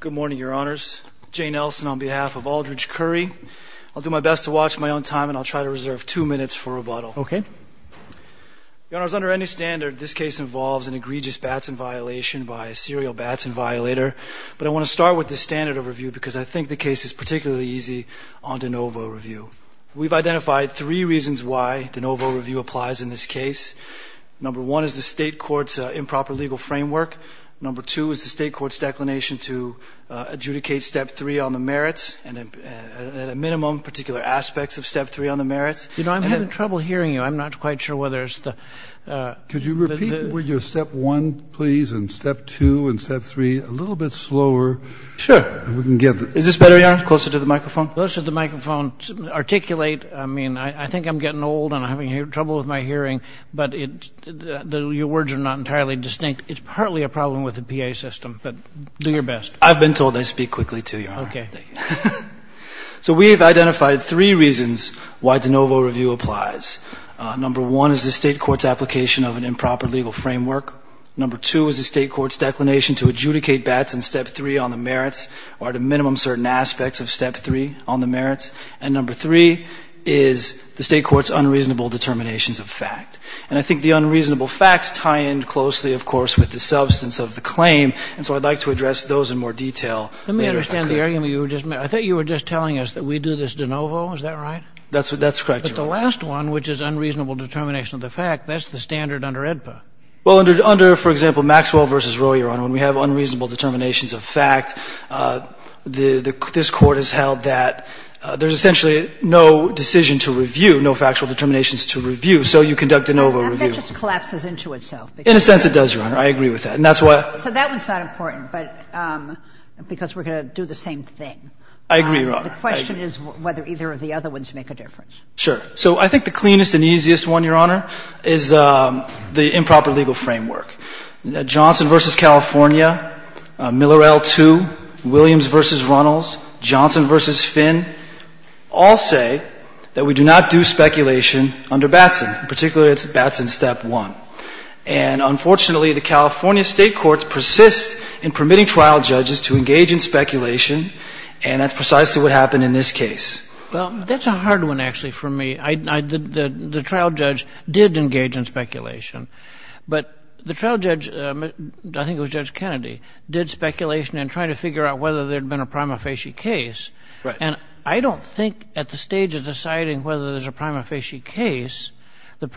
Good morning, Your Honors. Jay Nelson on behalf of Aldridge Currie. I'll do my best to watch my own time and I'll try to reserve two minutes for rebuttal. Okay. Your Honors, under any standard, this case involves an egregious batson violation by a serial batson violator. But I want to start with the standard of review because I think the case is particularly easy on de novo review. We've identified three reasons why de novo review applies in this case. Number one is the state court's improper legal framework. Number two is the state court's declination to adjudicate Step 3 on the merits and a minimum particular aspects of Step 3 on the merits. You know, I'm having trouble hearing you. I'm not quite sure whether it's the – Could you repeat with your Step 1, please, and Step 2 and Step 3 a little bit slower? Sure. Is this better, Your Honor? Closer to the microphone? Closer to the microphone. I mean, I think I'm getting old and I'm having trouble with my hearing, but your words are not entirely distinct. It's partly a problem with the PA system, but do your best. I've been told I speak quickly, too, Your Honor. Okay. So we have identified three reasons why de novo review applies. Number one is the state court's application of an improper legal framework. Number two is the state court's declination to adjudicate bats in Step 3 on the merits or at a minimum certain aspects of Step 3 on the merits. And number three is the state court's unreasonable determinations of fact. And I think the unreasonable facts tie in closely, of course, with the substance of the claim, and so I'd like to address those in more detail later if I could. Let me understand the argument you were just making. I thought you were just telling us that we do this de novo. Is that right? That's correct, Your Honor. But the last one, which is unreasonable determination of the fact, that's the standard under AEDPA. Well, under, for example, Maxwell v. Roe, Your Honor, when we have unreasonable determinations of fact, this Court has held that there's essentially no decision to review, no factual determinations to review, so you conduct a de novo review. That just collapses into itself. In a sense, it does, Your Honor. I agree with that. And that's why — So that one's not important, but because we're going to do the same thing. I agree, Your Honor. The question is whether either of the other ones make a difference. Sure. So I think the cleanest and easiest one, Your Honor, is the improper legal framework. Johnson v. California, Miller L2, Williams v. Runnels, Johnson v. Finn all say that we do not do speculation under Batson, particularly Batson Step 1. And unfortunately, the California State courts persist in permitting trial judges to engage in speculation, and that's precisely what happened in this case. Well, that's a hard one, actually, for me. The trial judge did engage in speculation. But the trial judge, I think it was Judge Kennedy, did speculation in trying to figure out whether there had been a prima facie case. Right. And I don't think at the stage of deciding whether there's a prima facie case, the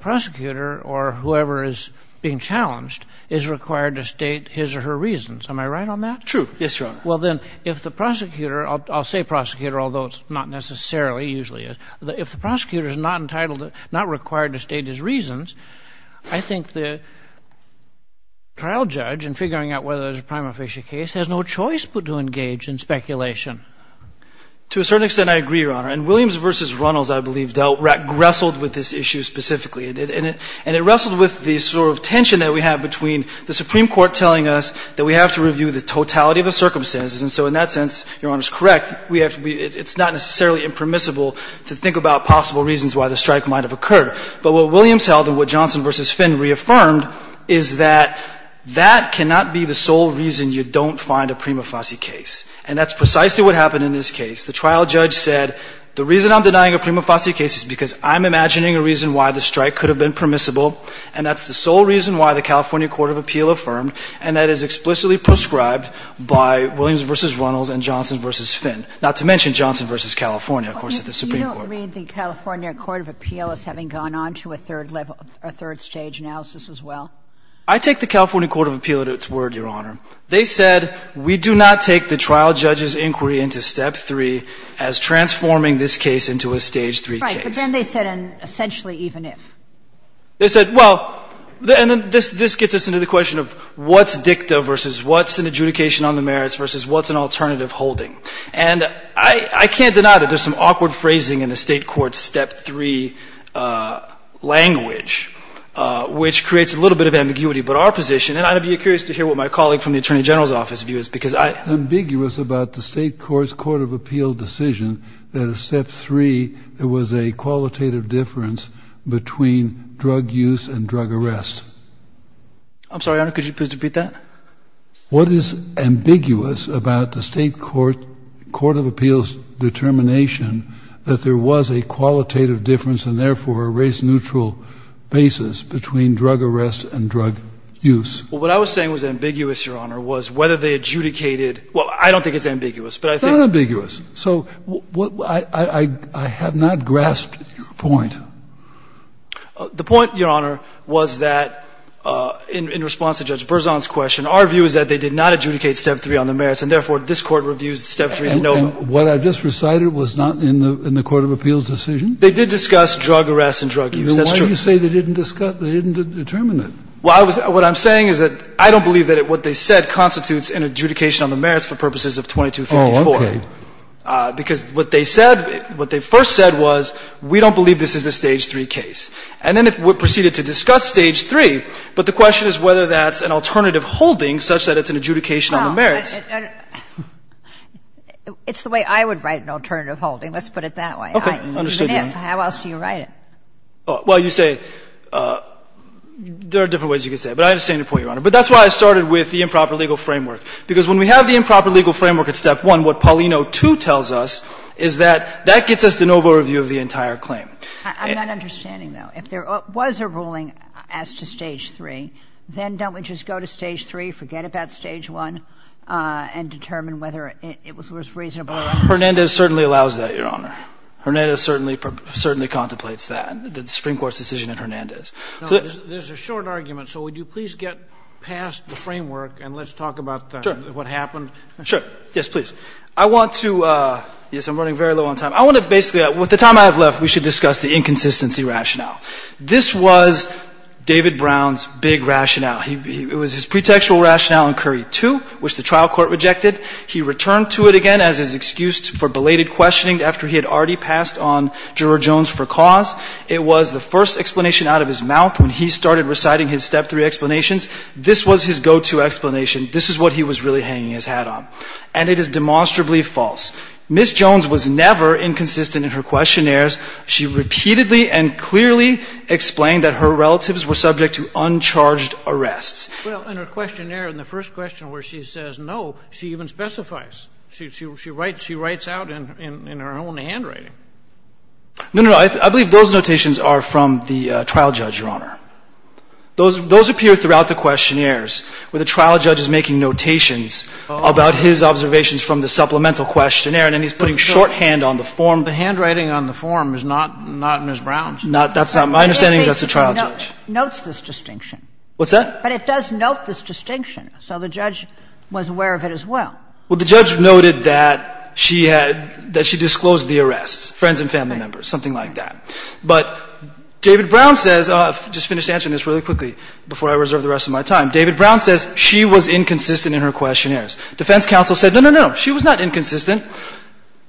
prosecutor or whoever is being challenged is required to state his or her reasons. Am I right on that? True. Yes, Your Honor. Well, then, if the prosecutor — I'll say prosecutor, although it's not necessarily usually is — if the prosecutor is not entitled to — not required to state his reasons, I think the trial judge, in figuring out whether there's a prima facie case, has no choice but to engage in speculation. To a certain extent, I agree, Your Honor. And Williams v. Runnels, I believe, wrestled with this issue specifically. And it wrestled with the sort of tension that we have between the Supreme Court telling us that we have to review the totality of the circumstances. And so in that sense, Your Honor is correct. We have — it's not necessarily impermissible to think about possible reasons why the strike might have occurred. But what Williams held and what Johnson v. Finn reaffirmed is that that cannot be the sole reason you don't find a prima facie case. And that's precisely what happened in this case. The trial judge said, the reason I'm denying a prima facie case is because I'm imagining a reason why the strike could have been permissible, and that's the sole reason why the California Court of Appeal affirmed, and that is explicitly prescribed by Williams v. Runnels and Johnson v. Finn, not to mention Johnson v. California, of course, at the Supreme Court. Kagan. You don't read the California Court of Appeal as having gone on to a third level — a third stage analysis as well? I take the California Court of Appeal at its word, Your Honor. They said we do not take the trial judge's inquiry into Step 3 as transforming this case into a Stage 3 case. Right. But then they said an essentially even if. They said, well — and then this gets us into the question of what's dicta versus what's an adjudication on the merits versus what's an alternative holding. And I can't deny that there's some awkward phrasing in the State Court's Step 3 language which creates a little bit of ambiguity. But our position — and I'd be curious to hear what my colleague from the Attorney General's office view is, because I — It's ambiguous about the State Court's Court of Appeal decision that in Step 3 there was a qualitative difference between drug use and drug arrest. I'm sorry, Your Honor. Could you please repeat that? What is ambiguous about the State Court — Court of Appeal's determination that there was a qualitative difference and therefore a race-neutral basis between drug arrest and drug use? Well, what I was saying was ambiguous, Your Honor, was whether they adjudicated — well, I don't think it's ambiguous, but I think — Not ambiguous. So I have not grasped your point. The point, Your Honor, was that in response to Judge Berzon's question, our view is that they did not adjudicate Step 3 on the merits, and therefore this Court reviews Step 3 — And what I just recited was not in the Court of Appeal's decision? They did discuss drug arrest and drug use. That's true. Then why do you say they didn't discuss — they didn't determine it? Well, I was — what I'm saying is that I don't believe that what they said constitutes an adjudication on the merits for purposes of 2254. Oh, okay. Because what they said — what they first said was, we don't believe this is a Stage 3 case. And then it proceeded to discuss Stage 3, but the question is whether that's an alternative holding such that it's an adjudication on the merits. Well, it's the way I would write an alternative holding. Let's put it that way, i.e., even if. Okay. Understood, Your Honor. How else do you write it? Well, you say — there are different ways you could say it, but I understand your point, Your Honor. But that's why I started with the improper legal framework, because when we have the improper legal framework at Step 1, what Paulino 2 tells us is that that gets us de novo review of the entire claim. I'm not understanding, though. If there was a ruling as to Stage 3, then don't we just go to Stage 3, forget about Stage 1, and determine whether it was reasonable or not? Hernandez certainly allows that, Your Honor. Hernandez certainly contemplates that, the Supreme Court's decision in Hernandez. There's a short argument. So would you please get past the framework and let's talk about what happened Sure. Yes, please. I want to — yes, I'm running very low on time. I want to basically — with the time I have left, we should discuss the inconsistency rationale. This was David Brown's big rationale. It was his pretextual rationale in Curry 2, which the trial court rejected. He returned to it again as his excuse for belated questioning after he had already passed on juror Jones for cause. It was the first explanation out of his mouth when he started reciting his Step 3 explanations. This was his go-to explanation. This is what he was really hanging his hat on. And it is demonstrably false. Ms. Jones was never inconsistent in her questionnaires. She repeatedly and clearly explained that her relatives were subject to uncharged arrests. Well, in her questionnaire, in the first question where she says no, she even specifies. She writes out in her own handwriting. I believe those notations are from the trial judge, Your Honor. Those appear throughout the questionnaires where the trial judge is making notations about his observations from the supplemental questionnaire, and then he's putting shorthand on the form. The handwriting on the form is not Ms. Brown's. That's not — my understanding is that's the trial judge. It notes this distinction. What's that? But it does note this distinction. So the judge was aware of it as well. Well, the judge noted that she had — that she disclosed the arrests, friends and family members, something like that. But David Brown says — I'll just finish answering this really quickly before I reserve the rest of my time. David Brown says she was inconsistent in her questionnaires. Defense counsel said no, no, no. She was not inconsistent.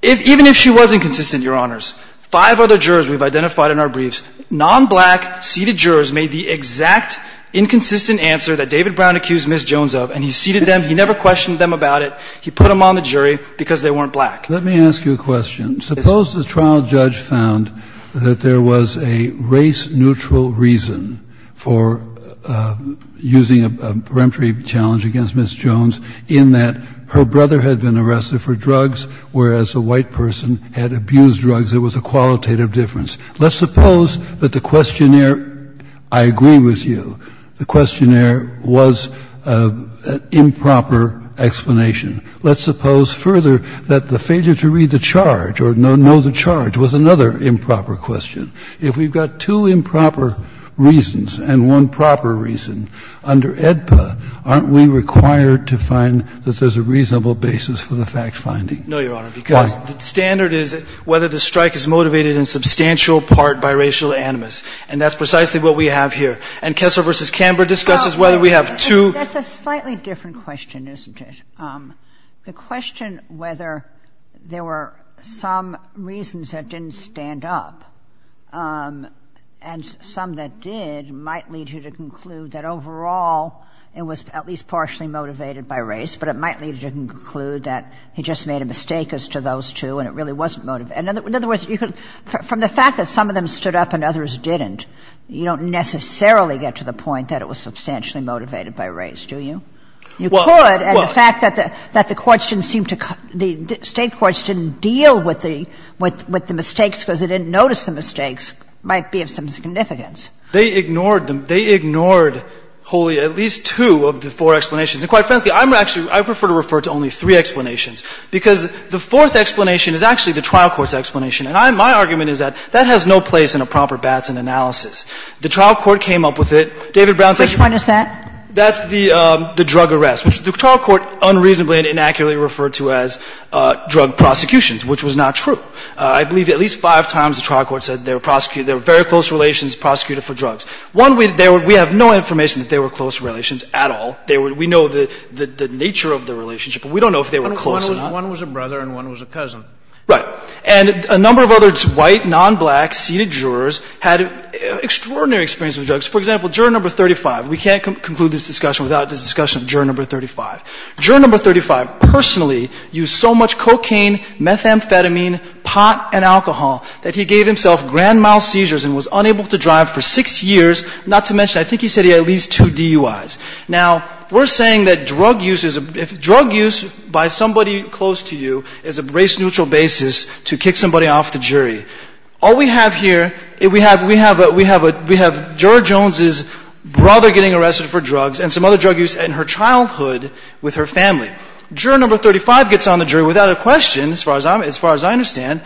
Even if she was inconsistent, Your Honors, five other jurors we've identified in our briefs, non-black seated jurors made the exact inconsistent answer that David Brown accused Ms. Jones of, and he seated them. He never questioned them about it. He put them on the jury because they weren't black. Let me ask you a question. Suppose the trial judge found that there was a race-neutral reason for using a peremptory challenge against Ms. Jones in that her brother had been arrested for drugs, whereas a white person had abused drugs. There was a qualitative difference. Let's suppose that the questionnaire — I agree with you. The questionnaire was an improper explanation. Let's suppose further that the failure to read the charge or know the charge was another improper question. If we've got two improper reasons and one proper reason, under AEDPA, aren't we required to find that there's a reasonable basis for the fact-finding? No, Your Honor, because the standard is whether the strike is motivated in substantial part by racial animus, and that's precisely what we have here. And Kessler v. Camber discusses whether we have two— That's a slightly different question, isn't it? The question whether there were some reasons that didn't stand up and some that did might lead you to conclude that overall it was at least partially motivated by race, but it might lead you to conclude that he just made a mistake as to those two and it really wasn't motivated. In other words, from the fact that some of them stood up and others didn't, you don't necessarily get to the point that it was substantially motivated by race, do you? You could, and the fact that the courts didn't seem to – the State courts didn't deal with the – with the mistakes because they didn't notice the mistakes might be of some significance. They ignored them. They ignored wholly at least two of the four explanations. And quite frankly, I'm actually – I prefer to refer to only three explanations because the fourth explanation is actually the trial court's explanation. And my argument is that that has no place in a proper Batson analysis. The trial court came up with it. David Brown said – Which one is that? That's the drug arrest, which the trial court unreasonably and inaccurately referred to as drug prosecutions, which was not true. I believe at least five times the trial court said they were prosecuted – they were very close relations prosecuted for drugs. One, we have no information that they were close relations at all. We know the nature of the relationship, but we don't know if they were close or not. One was a brother and one was a cousin. Right. And a number of others, white, nonblack, seated jurors, had extraordinary experience with drugs. For example, juror number 35. We can't conclude this discussion without the discussion of juror number 35. Juror number 35 personally used so much cocaine, methamphetamine, pot, and alcohol that he gave himself grand mal seizures and was unable to drive for six years, not to mention I think he said he had at least two DUIs. Now, we're saying that drug use is – drug use by somebody close to you is a race-neutral basis to kick somebody off the jury. All we have here, we have – we have a – we have juror Jones' brother getting arrested for drugs and some other drug use in her childhood with her family. Juror number 35 gets on the jury without a question, as far as I'm – as far as I understand,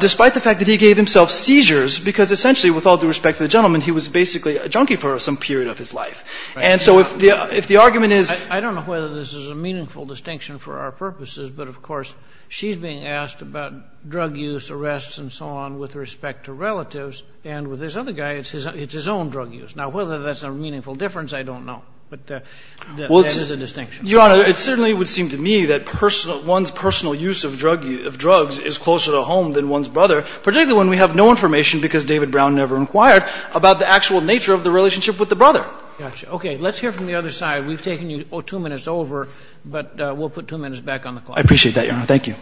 despite the fact that he gave himself seizures because essentially with all due respect to the gentleman, he was basically a junkie for some period of his life. And so if the – if the argument is – I don't know whether this is a meaningful distinction for our purposes, but of drug use, arrests, and so on, with respect to relatives, and with this other guy, it's his own drug use. Now, whether that's a meaningful difference, I don't know. But that is a distinction. Your Honor, it certainly would seem to me that personal – one's personal use of drug – of drugs is closer to home than one's brother, particularly when we have no information, because David Brown never inquired, about the actual nature of the relationship with the brother. Gotcha. Okay. Let's hear from the other side. We've taken you two minutes over, but we'll put two minutes back on the clock. I appreciate that, Your Honor. Thank you.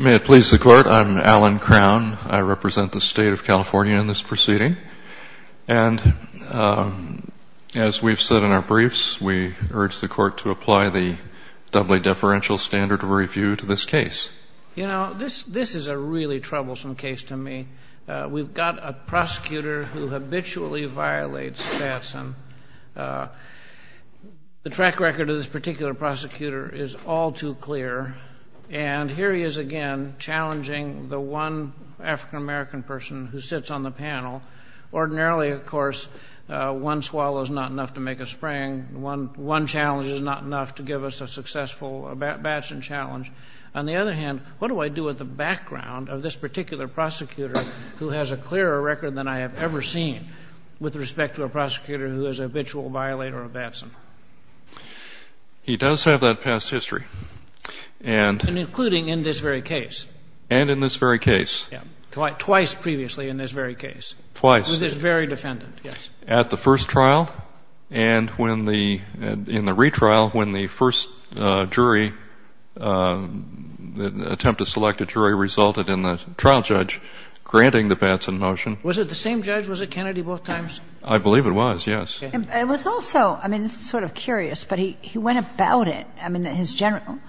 May it please the Court, I'm Alan Crown. I represent the State of California in this proceeding. And as we've said in our briefs, we urge the Court to apply the doubly deferential standard of review to this case. You know, this – this is a really troublesome case to me. We've got a prosecutor who habitually violates Batson. The track record of this particular prosecutor is all too clear. And here he is again challenging the one African-American person who sits on the panel. Ordinarily, of course, one swallow is not enough to make a spring. One challenge is not enough to give us a successful Batson challenge. On the other hand, what do I do with the background of this particular prosecutor who has a clearer record than I have ever seen with respect to a prosecutor who is a habitual violator of Batson? He does have that past history. And – And including in this very case. And in this very case. Twice previously in this very case. Twice. With this very defendant, yes. At the first trial and when the – in the retrial, when the first jury, the attempt to select a jury resulted in the trial judge granting the Batson motion. Was it the same judge? Was it Kennedy both times? I believe it was, yes. It was also – I mean, this is sort of curious, but he went about it, I mean, his general –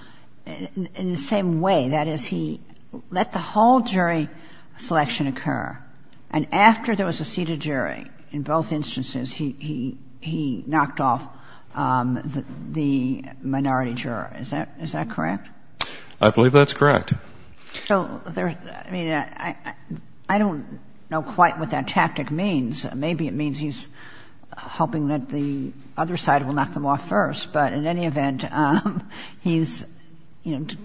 in the same way. That is, he let the whole jury selection occur. And after there was a seated jury in both instances, he – he knocked off the minority jury. Is that correct? I believe that's correct. So there – I mean, I don't know quite what that tactic means. Maybe it means he's hoping that the other side will knock them off first. But in any event, he's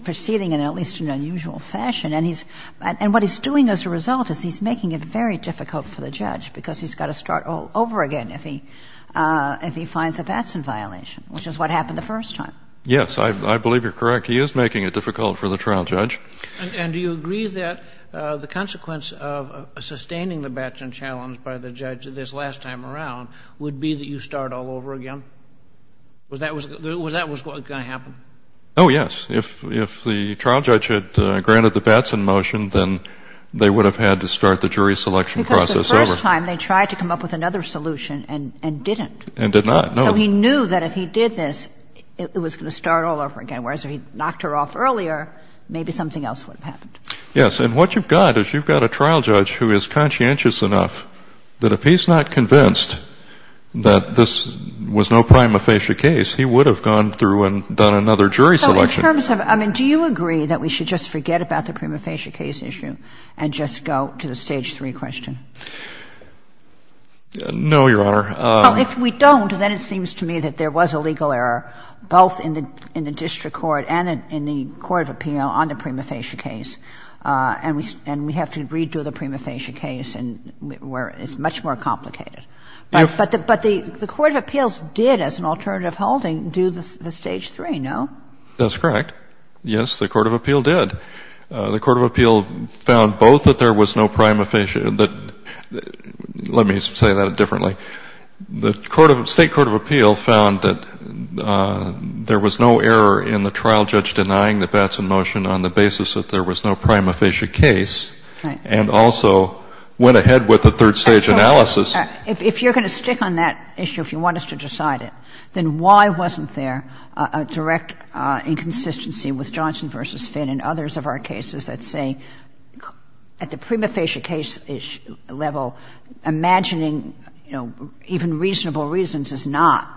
proceeding in at least an unusual fashion. And he's – and what he's doing as a result is he's making it very difficult for the judge because he's got to start all over again if he finds a Batson violation, which is what happened the first time. Yes. I believe you're correct. He is making it difficult for the trial judge. And do you agree that the consequence of sustaining the Batson challenge by the judge this last time around would be that you start all over again? Was that what was going to happen? Oh, yes. If the trial judge had granted the Batson motion, then they would have had to start the jury selection process over. Because the first time they tried to come up with another solution and didn't. And did not. No. So he knew that if he did this, it was going to start all over again. Whereas if he knocked her off earlier, maybe something else would have happened. Yes. And what you've got is you've got a trial judge who is conscientious enough that if he's not convinced that this was no prima facie case, he would have gone through and done another jury selection. So in terms of – I mean, do you agree that we should just forget about the prima facie case issue and just go to the Stage 3 question? No, Your Honor. Well, if we don't, then it seems to me that there was a legal error, both in the district court and in the court of appeal on the prima facie case. And we have to redo the prima facie case where it's much more complicated. But the court of appeals did, as an alternative holding, do the Stage 3, no? That's correct. Yes, the court of appeal did. The court of appeal found both that there was no prima facie – let me say that differently. The state court of appeal found that there was no error in the trial judge denying the Batson motion on the basis that there was no prima facie case and also went ahead with the third stage analysis. If you're going to stick on that issue, if you want us to decide it, then why wasn't there a direct inconsistency with Johnson v. Finn and others of our cases that say at the prima facie level, imagining, you know, even reasonable reasons is not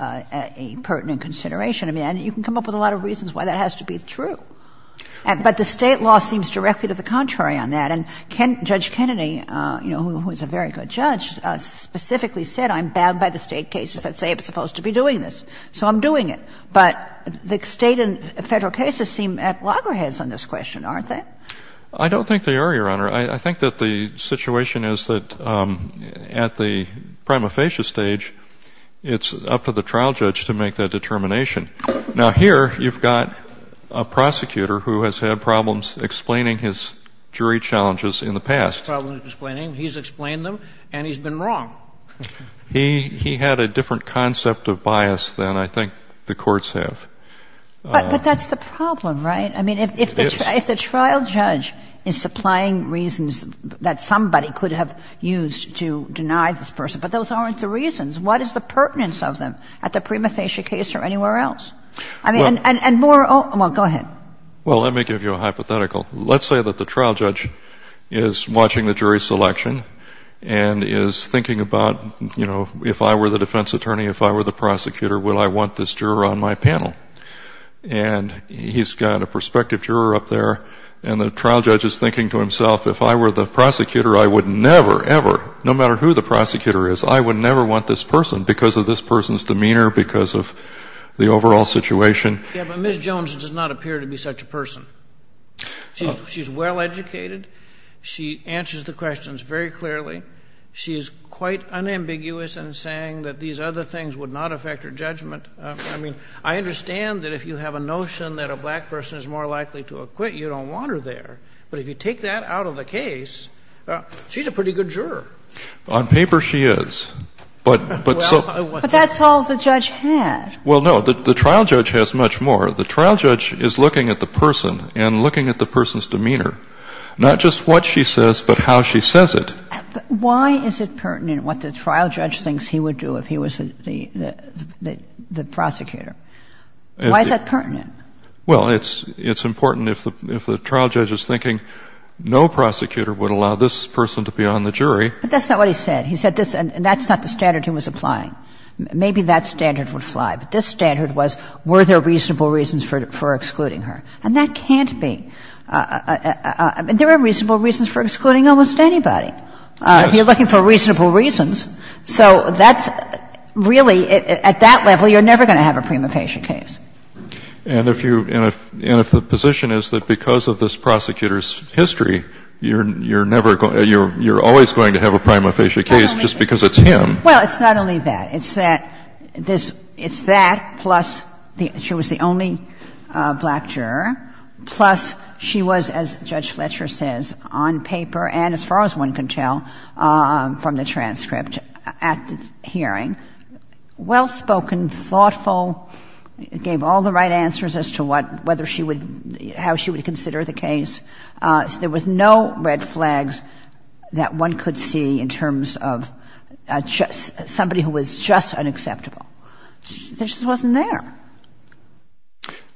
a pertinent consideration? I mean, you can come up with a lot of reasons why that has to be true. But the State law seems directly to the contrary on that. And Judge Kennedy, you know, who is a very good judge, specifically said, I'm bound by the State cases that say it's supposed to be doing this. So I'm doing it. But the State and Federal cases seem at loggerheads on this question, aren't they? I don't think they are, Your Honor. I think that the situation is that at the prima facie stage, it's up to the trial judge to make that determination. Now, here you've got a prosecutor who has had problems explaining his jury challenges in the past. He's had problems explaining. He's explained them, and he's been wrong. He had a different concept of bias than I think the courts have. But that's the problem, right? I mean, if the trial judge is supplying reasons that somebody could have used to deny this person, but those aren't the reasons. What is the pertinence of them at the prima facie case or anywhere else? I mean, and more of them. Well, go ahead. Well, let me give you a hypothetical. Let's say that the trial judge is watching the jury selection and is thinking about, you know, if I were the defense attorney, if I were the prosecutor, will I want this juror on my panel? And he's got a prospective juror up there. And the trial judge is thinking to himself, if I were the prosecutor, I would never, ever, no matter who the prosecutor is, I would never want this person because of this person's demeanor, because of the overall situation. Yeah, but Ms. Jones does not appear to be such a person. She's well educated. She answers the questions very clearly. She's quite unambiguous in saying that these other things would not affect her judgment. I mean, I understand that if you have a notion that a black person is more likely to acquit, you don't want her there. But if you take that out of the case, she's a pretty good juror. On paper, she is. But so. But that's all the judge had. Well, no. The trial judge has much more. The trial judge is looking at the person and looking at the person's demeanor, not just what she says, but how she says it. But why is it pertinent what the trial judge thinks he would do if he was the prosecutor? Why is that pertinent? Well, it's important if the trial judge is thinking, no prosecutor would allow this person to be on the jury. But that's not what he said. He said this, and that's not the standard he was applying. Maybe that standard would fly. But this standard was, were there reasonable reasons for excluding her? And that can't be. There are reasonable reasons for excluding almost anybody. You're looking for reasonable reasons. So that's really, at that level, you're never going to have a prima facie case. And if you, and if the position is that because of this prosecutor's history, you're never, you're always going to have a prima facie case just because it's him. Well, it's not only that. It's that this, it's that plus she was the only black juror, plus she was the only black juror. She was, as Judge Fletcher says, on paper and as far as one can tell from the transcript at the hearing, well-spoken, thoughtful, gave all the right answers as to what, whether she would, how she would consider the case. There was no red flags that one could see in terms of somebody who was just unacceptable. She just wasn't there.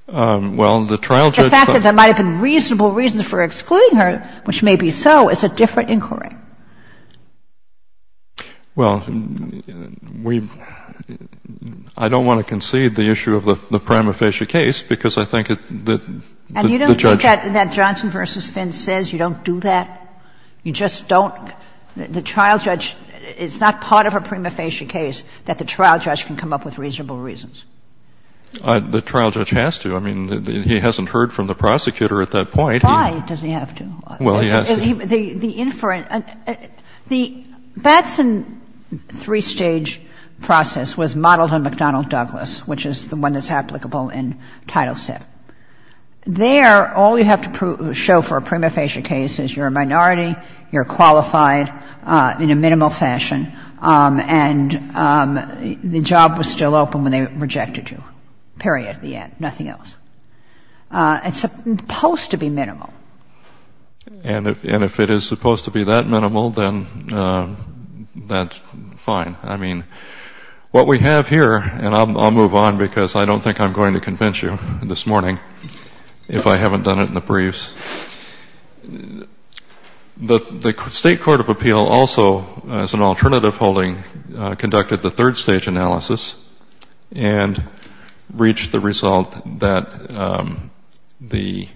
The fact that there might have been reasonable reasons for excluding her, which may be so, is a different inquiry. Well, we've, I don't want to concede the issue of the prima facie case because I think that the judge- And you don't think that in that Johnson v. Finn says you don't do that? You just don't, the trial judge, it's not part of a prima facie case that the trial judge can come up with reasonable reasons. The trial judge has to. I mean, he hasn't heard from the prosecutor at that point. Why does he have to? Well, he has to. The inference, the Batson three-stage process was modeled on McDonnell-Douglas, which is the one that's applicable in Title VII. There, all you have to show for a prima facie case is you're a minority, you're rejected you, period, the end, nothing else. It's supposed to be minimal. And if it is supposed to be that minimal, then that's fine. I mean, what we have here, and I'll move on because I don't think I'm going to convince you this morning if I haven't done it in the briefs, the State Court of Appeal also, as an alternative holding, conducted the third-stage analysis and reached the result that the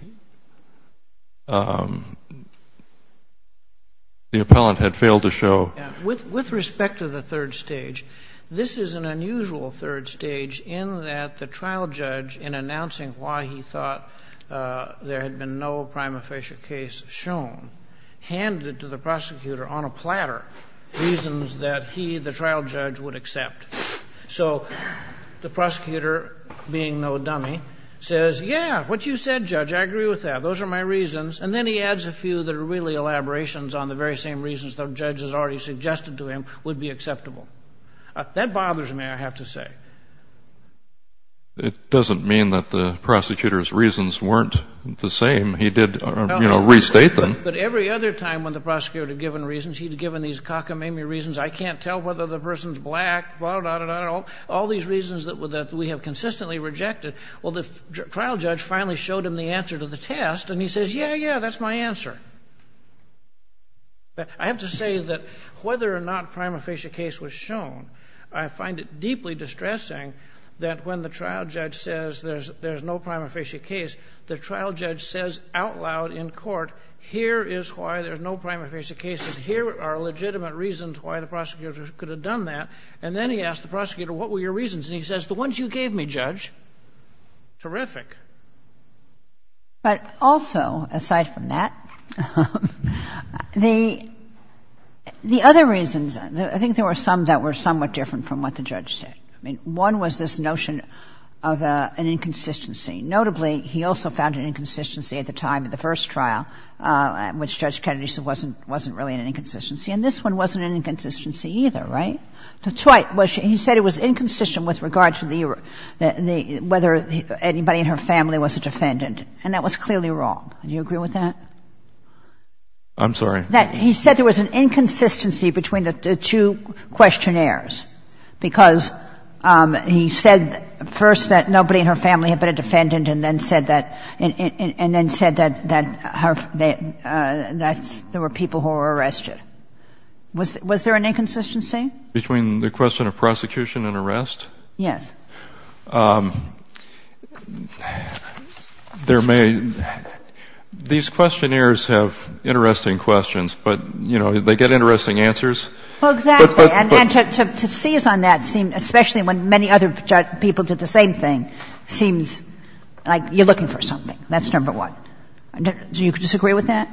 appellant had failed to show. With respect to the third stage, this is an unusual third stage in that the trial judge, in announcing why he thought there had been no prima facie case shown, handed it to the prosecutor on a platter, reasons that he, the trial judge, would accept. So the prosecutor, being no dummy, says, yeah, what you said, Judge, I agree with that, those are my reasons, and then he adds a few that are really elaborations on the very same reasons the judge has already suggested to him would be acceptable. That bothers me, I have to say. It doesn't mean that the prosecutor's reasons weren't the same. He did, you know, restate them. But every other time when the prosecutor had given reasons, he had given these cockamamie reasons, I can't tell whether the person's black, blah, blah, blah, all these reasons that we have consistently rejected, well, the trial judge finally showed him the answer to the test, and he says, yeah, yeah, that's my answer. I have to say that whether or not prima facie case was shown, I find it deeply distressing that when the trial judge says there's no prima facie case, the trial judge says out in court, here is why there's no prima facie cases. Here are legitimate reasons why the prosecutor could have done that. And then he asked the prosecutor, what were your reasons? And he says, the ones you gave me, Judge. Terrific. But also, aside from that, the other reasons, I think there were some that were somewhat different from what the judge said. I mean, one was this notion of an inconsistency. Notably, he also found an inconsistency at the time of the first trial, which Judge Kennedy said wasn't really an inconsistency. And this one wasn't an inconsistency either, right? He said it was inconsistent with regard to whether anybody in her family was a defendant, and that was clearly wrong. Do you agree with that? I'm sorry? He said there was an inconsistency between the two questionnaires, because he said first that nobody in her family had been a defendant and then said that there were people who were arrested. Was there an inconsistency? Between the question of prosecution and arrest? Yes. There may be. These questionnaires have interesting questions, but, you know, they get interesting answers. Well, exactly, and to seize on that, especially when many other people did the same thing, seems like you're looking for something. That's number one. Do you disagree with that?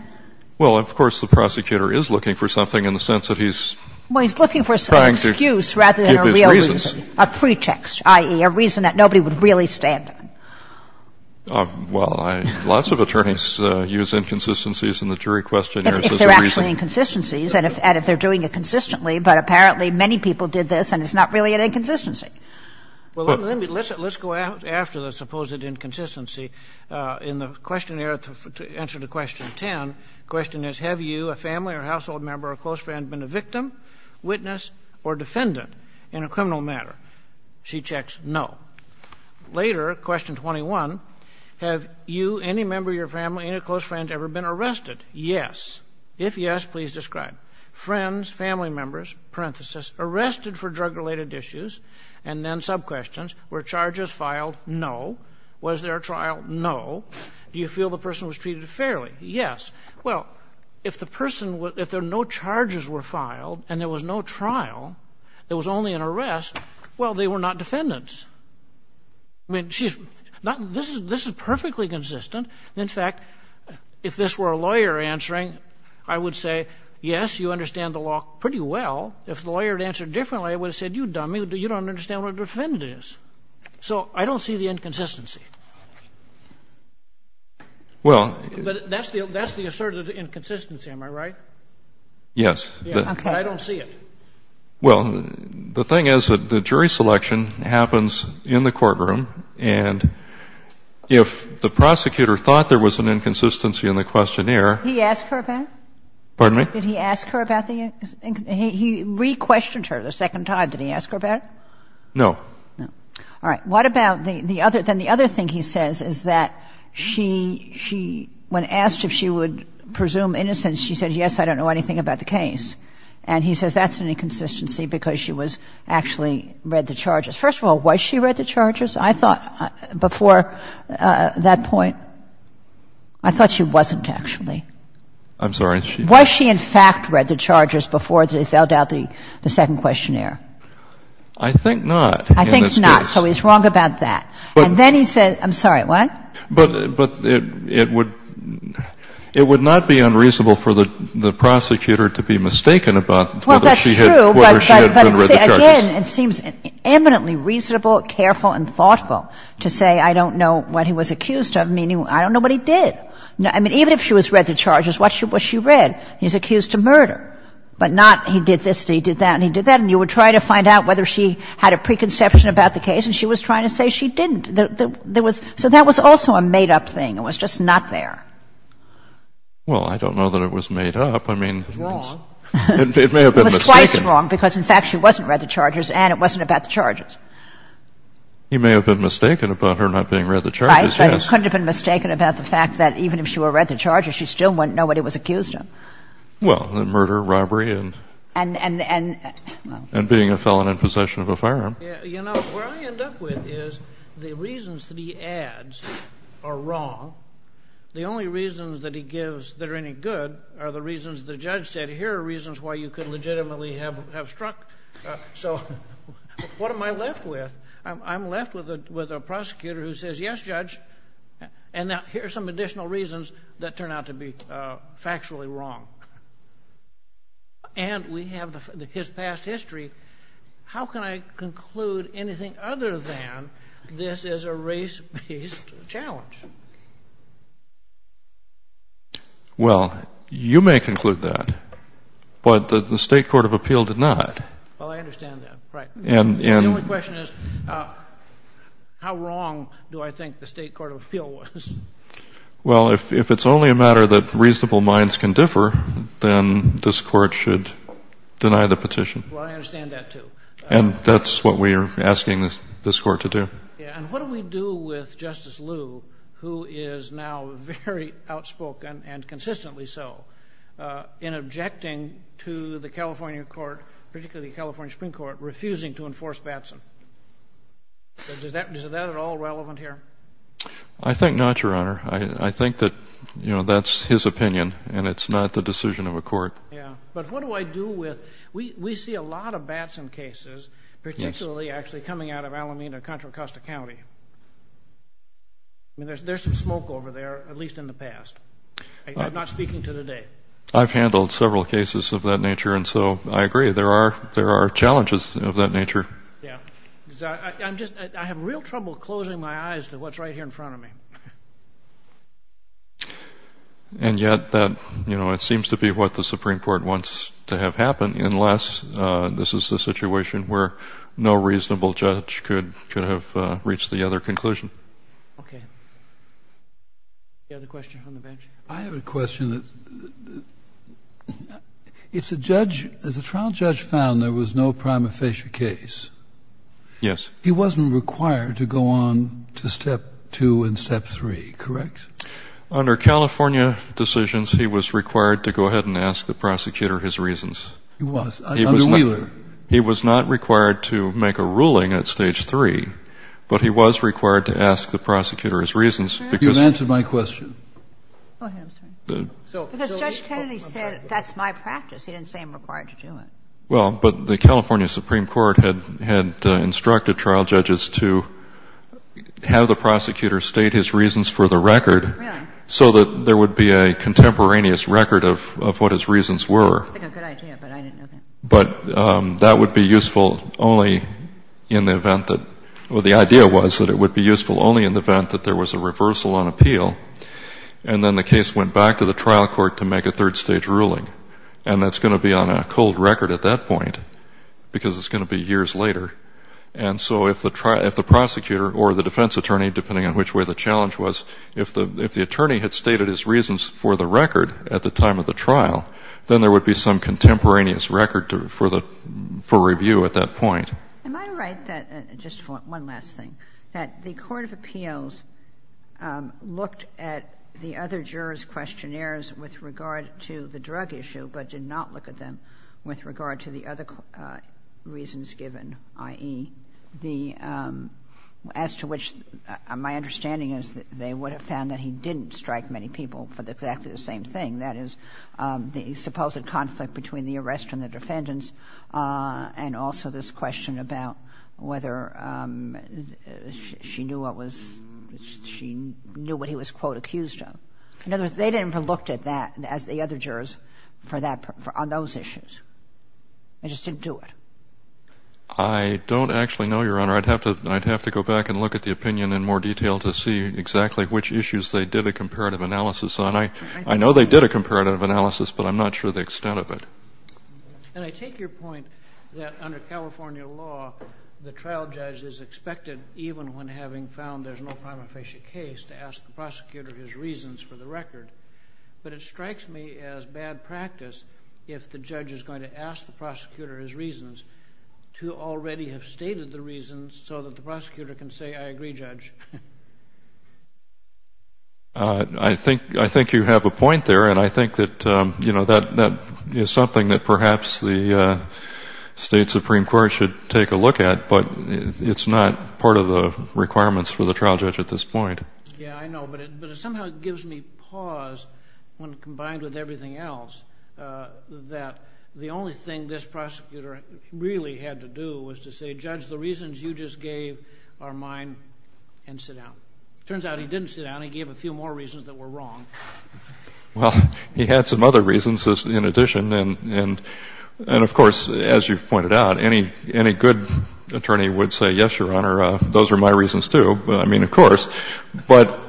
Well, of course the prosecutor is looking for something in the sense that he's trying to give his reasons. Well, he's looking for an excuse rather than a real reason, a pretext, i.e., a reason that nobody would really stand on. Well, let's go after the supposed inconsistency in the questionnaire to answer to question 10. The question is, have you, a family or household member or close friend, been a victim, witness, or defendant in a criminal matter? She checks no. Later, question 21, have you, any member of your family, any close friend ever been arrested? Yes. If yes, please describe. Friends, family members, parenthesis, arrested for drug-related issues, and then sub-questions, were charges filed? No. Was there a trial? No. Do you feel the person was treated fairly? Yes. Well, if the person, if no charges were filed and there was no trial, there was only an arrest, well, they were not defendants. I mean, this is perfectly consistent. In fact, if this were a lawyer answering, I would say, yes, you understand the law pretty well. If the lawyer had answered differently, I would have said, you dummy, you don't understand what a defendant is. So I don't see the inconsistency. Well. But that's the assertive inconsistency, am I right? Yes. Okay. But I don't see it. Well, the thing is that the jury selection happens in the courtroom, and if the prosecutor thought there was an inconsistency in the questionnaire. Did he ask her about it? Pardon me? Did he ask her about the inconsistency? He re-questioned her the second time. Did he ask her about it? No. No. All right. What about the other? Then the other thing he says is that she, when asked if she would presume innocence, she said, yes, I don't know anything about the case. And he says that's an inconsistency because she was actually read the charges. First of all, was she read the charges? I thought before that point, I thought she wasn't actually. I'm sorry. Was she in fact read the charges before they filled out the second questionnaire? I think not in this case. I think not. So he's wrong about that. And then he says, I'm sorry, what? But it would not be unreasonable for the prosecutor to be mistaken about whether she had been read the charges. But then it seems eminently reasonable, careful, and thoughtful to say I don't know what he was accused of, meaning I don't know what he did. I mean, even if she was read the charges, what she read, he's accused of murder, but not he did this and he did that and he did that. And you would try to find out whether she had a preconception about the case, and she was trying to say she didn't. There was — so that was also a made-up thing. It was just not there. Well, I don't know that it was made up. I mean, it's — It was wrong. It may have been mistaken. Twice wrong, because, in fact, she wasn't read the charges and it wasn't about the charges. He may have been mistaken about her not being read the charges, yes. Right, but he couldn't have been mistaken about the fact that even if she were read the charges, she still wouldn't know what he was accused of. Well, murder, robbery, and — And — And being a felon in possession of a firearm. You know, where I end up with is the reasons that he adds are wrong. The only reasons that he gives that are any good are the reasons the judge said, but here are reasons why you could legitimately have struck. So what am I left with? I'm left with a prosecutor who says, yes, judge, and now here are some additional reasons that turn out to be factually wrong. And we have his past history. How can I conclude anything other than this is a race-based challenge? Well, you may conclude that, but the State Court of Appeal did not. Well, I understand that. Right. And — The only question is, how wrong do I think the State Court of Appeal was? Well, if it's only a matter that reasonable minds can differ, then this Court should deny the petition. Well, I understand that, too. And that's what we are asking this Court to do. And what do we do with Justice Liu, who is now very outspoken, and consistently so, in objecting to the California court, particularly the California Supreme Court, refusing to enforce Batson? Is that at all relevant here? I think not, Your Honor. I think that, you know, that's his opinion, and it's not the decision of a court. Yeah. But what do I do with — we see a lot of Batson cases, particularly actually coming out of Alameda and Contra Costa County. I mean, there's some smoke over there, at least in the past. I'm not speaking to today. I've handled several cases of that nature, and so I agree. There are challenges of that nature. Yeah. I'm just — I have real trouble closing my eyes to what's right here in front of me. And yet that, you know, it seems to be what the Supreme Court wants to have happen, unless this is a situation where no reasonable judge could have reached the other conclusion. Okay. You have a question on the bench? I have a question. It's a judge — the trial judge found there was no prima facie case. Yes. He wasn't required to go on to step two and step three, correct? Under California decisions, he was required to go ahead and ask the prosecutor his reasons. He was. Under Wheeler. He was not required to make a ruling at stage three, but he was required to ask the prosecutor his reasons because — You've answered my question. Go ahead. I'm sorry. Because Judge Kennedy said that's my practice. He didn't say I'm required to do it. Well, but the California Supreme Court had instructed trial judges to have the prosecutor state his reasons for the record so that there would be a contemporaneous record of what his reasons were. I think a good idea, but I didn't know that. But that would be useful only in the event that — well, the idea was that it would be useful only in the event that there was a reversal on appeal, and then the case went back to the trial court to make a third-stage ruling. And that's going to be on a cold record at that point because it's going to be years later. And so if the prosecutor or the defense attorney, depending on which way the challenge was, if the attorney had stated his reasons for the record at the time of the trial, then there would be some contemporaneous record for review at that point. Am I right that — just one last thing — that the court of appeals looked at the other jurors' questionnaires with regard to the drug issue, but did not look at them with regard to the other reasons given, i.e., the — as to which my understanding is that they would have found that he didn't strike many people for exactly the same thing, that is, the supposed conflict between the arrest and the defendants and also this question about whether she knew what was — she knew what he was, quote, accused of. In other words, they didn't even look at that, as the other jurors, for that — on those issues. They just didn't do it. I don't actually know, Your Honor. I'd have to — I'd have to go back and look at the opinion in more detail to see exactly which issues they did a comparative analysis on. I know they did a comparative analysis, but I'm not sure the extent of it. And I take your point that under California law, the trial judge is expected, even when having found there's no prima facie case, to ask the prosecutor his reasons for the record. But it strikes me as bad practice, if the judge is going to ask the prosecutor his reasons, to already have stated the reasons so that the prosecutor can say, I agree, Judge. I think — I think you have a point there. And I think that, you know, that is something that perhaps the State Supreme Court should take a look at. But it's not part of the requirements for the trial judge at this point. Yeah, I know. But it somehow gives me pause, when combined with everything else, that the only thing this prosecutor really had to do was to say, Judge, the reasons you just gave are mine, and sit down. It turns out he didn't sit down. He gave a few more reasons that were wrong. Well, he had some other reasons in addition. And, of course, as you've pointed out, any good attorney would say, yes, Your Honor, those are my reasons, too. I mean, of course. But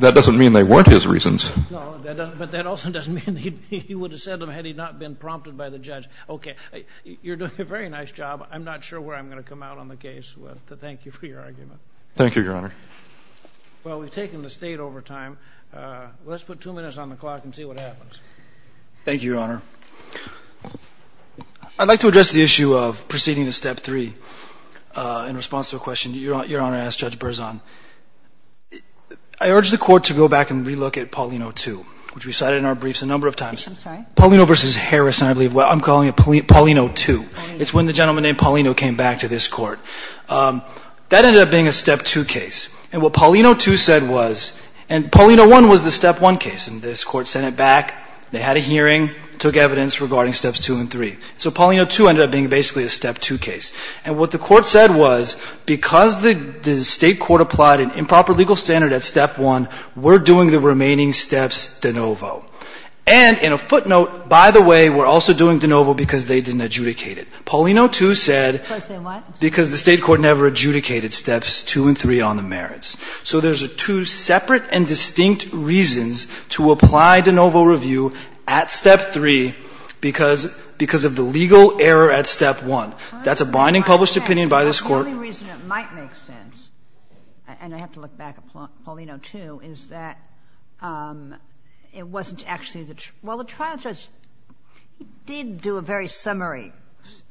that doesn't mean they weren't his reasons. No, but that also doesn't mean he would have said them had he not been prompted by the judge. Okay. You're doing a very nice job. I'm not sure where I'm going to come out on the case, but thank you for your argument. Thank you, Your Honor. Well, we've taken the State over time. Let's put two minutes on the clock and see what happens. Thank you, Your Honor. I'd like to address the issue of proceeding to Step 3 in response to a question Your Honor asked Judge Berzon. I urge the Court to go back and relook at Paulino 2, which we cited in our briefs a number of times. I'm sorry? Paulino v. Harrison, I believe. Well, I'm calling it Paulino 2. It's when the gentleman named Paulino came back to this Court. That ended up being a Step 2 case. And what Paulino 2 said was, and Paulino 1 was the Step 1 case, and this Court sent it back. They had a hearing, took evidence regarding Steps 2 and 3. So Paulino 2 ended up being basically a Step 2 case. And what the Court said was, because the State Court applied an improper legal standard at Step 1, we're doing the remaining steps de novo. And in a footnote, by the way, we're also doing de novo because they didn't adjudicate it. Paulino 2 said because the State Court never adjudicated Steps 2 and 3 on the merits. So there's two separate and distinct reasons to apply de novo review at Step 3 because of the legal error at Step 1. That's a binding published opinion by this Court. The only reason it might make sense, and I have to look back at Paulino 2, is that it wasn't actually the true. Well, the trial judge, he did do a very summary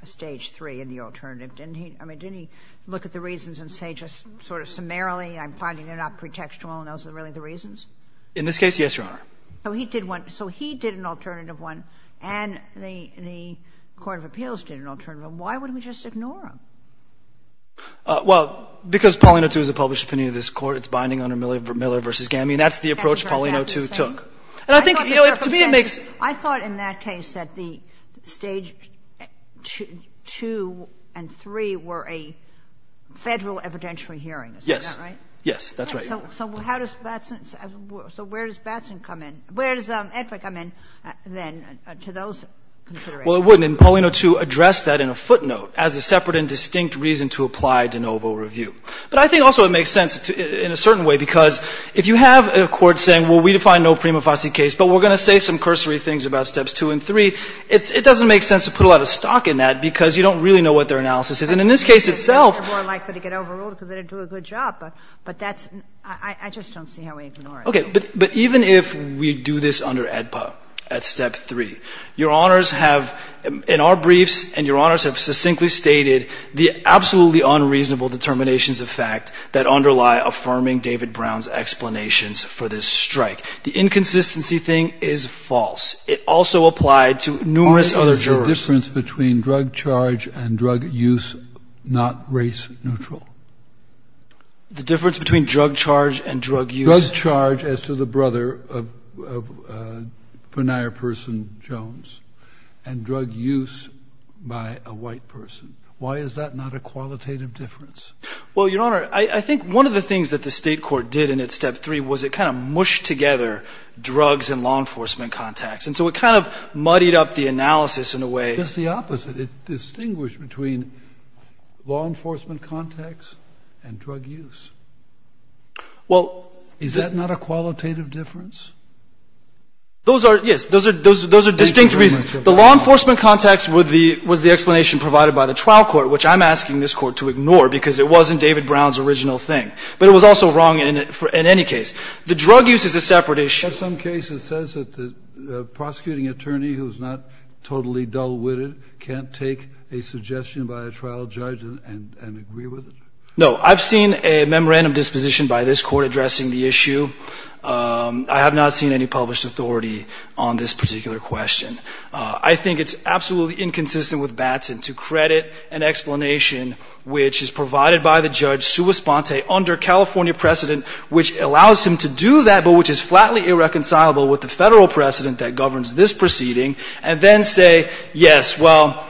Stage 3 in the alternative, didn't he? I mean, didn't he look at the reasons and say just sort of summarily, I'm finding they're not pretextual, and those are really the reasons? In this case, yes, Your Honor. So he did one. So he did an alternative one, and the Court of Appeals did an alternative one. Why would we just ignore them? Well, because Paulino 2 is a published opinion of this Court. It's binding under Miller v. Gamey. I mean, that's the approach Paulino 2 took. And I think, you know, to me it makes sense. I thought in that case that the Stage 2 and 3 were a Federal evidentiary hearing. Is that right? Yes. Yes, that's right, Your Honor. So how does Batson – so where does Batson come in? Where does Edwin come in then to those considerations? Well, it wouldn't. And Paulino 2 addressed that in a footnote as a separate and distinct reason to apply de novo review. But I think also it makes sense in a certain way, because if you have a court saying, well, we define no prima facie case, but we're going to say some cursory things about Steps 2 and 3, it doesn't make sense to put a lot of stock in that because you don't really know what their analysis is. And in this case itself – They're more likely to get overruled because they didn't do a good job. But that's – I just don't see how we ignore it. Okay. But even if we do this under AEDPA at Step 3, Your Honors have in our briefs and the absolutely unreasonable determinations of fact that underlie affirming David Brown's explanations for this strike. The inconsistency thing is false. It also applied to numerous other jurors. Aren't the difference between drug charge and drug use not race neutral? The difference between drug charge and drug use – Drug charge as to the brother of Bonaire person Jones and drug use by a white person. Why is that not a qualitative difference? Well, Your Honor, I think one of the things that the State Court did in its Step 3 was it kind of mushed together drugs and law enforcement contacts. And so it kind of muddied up the analysis in a way – It's the opposite. It distinguished between law enforcement contacts and drug use. Well – Is that not a qualitative difference? Those are – yes. Those are distinct reasons. The law enforcement contacts was the explanation provided by the trial court, which I'm asking this Court to ignore because it wasn't David Brown's original thing. But it was also wrong in any case. The drug use is a separate issue. In some cases it says that the prosecuting attorney who is not totally dull-witted can't take a suggestion by a trial judge and agree with it. No. I've seen a memorandum disposition by this Court addressing the issue. I have not seen any published authority on this particular question. I think it's absolutely inconsistent with Batson to credit an explanation which is provided by the judge sua sponte under California precedent, which allows him to do that, but which is flatly irreconcilable with the Federal precedent that governs this proceeding, and then say, yes, well,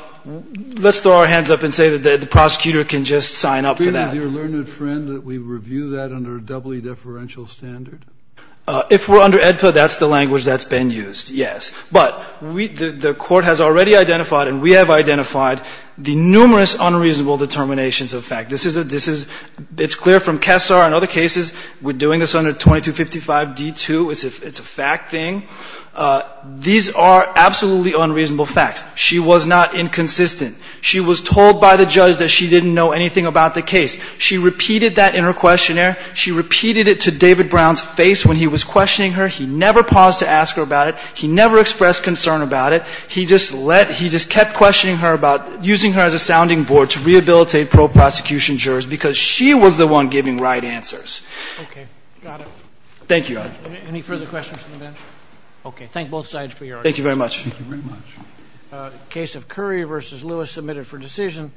let's throw our hands up and say that the prosecutor can just sign up for that. Do you agree with your learned friend that we review that under a doubly differential standard? If we're under AEDPA, that's the language that's been used, yes. But we – the Court has already identified and we have identified the numerous unreasonable determinations of fact. This is a – this is – it's clear from Kessar and other cases. We're doing this under 2255d2. It's a fact thing. These are absolutely unreasonable facts. She was not inconsistent. She was told by the judge that she didn't know anything about the case. She repeated that in her questionnaire. She repeated it to David Brown's face when he was questioning her. He never paused to ask her about it. He never expressed concern about it. He just let – he just kept questioning her about using her as a sounding board to rehabilitate pro-prosecution jurors because she was the one giving right answers. Okay. Got it. Thank you, Your Honor. Any further questions from the bench? Okay. Thank both sides for your arguments. Thank you very much. Thank you very much. The case of Curry v. Lewis submitted for decision.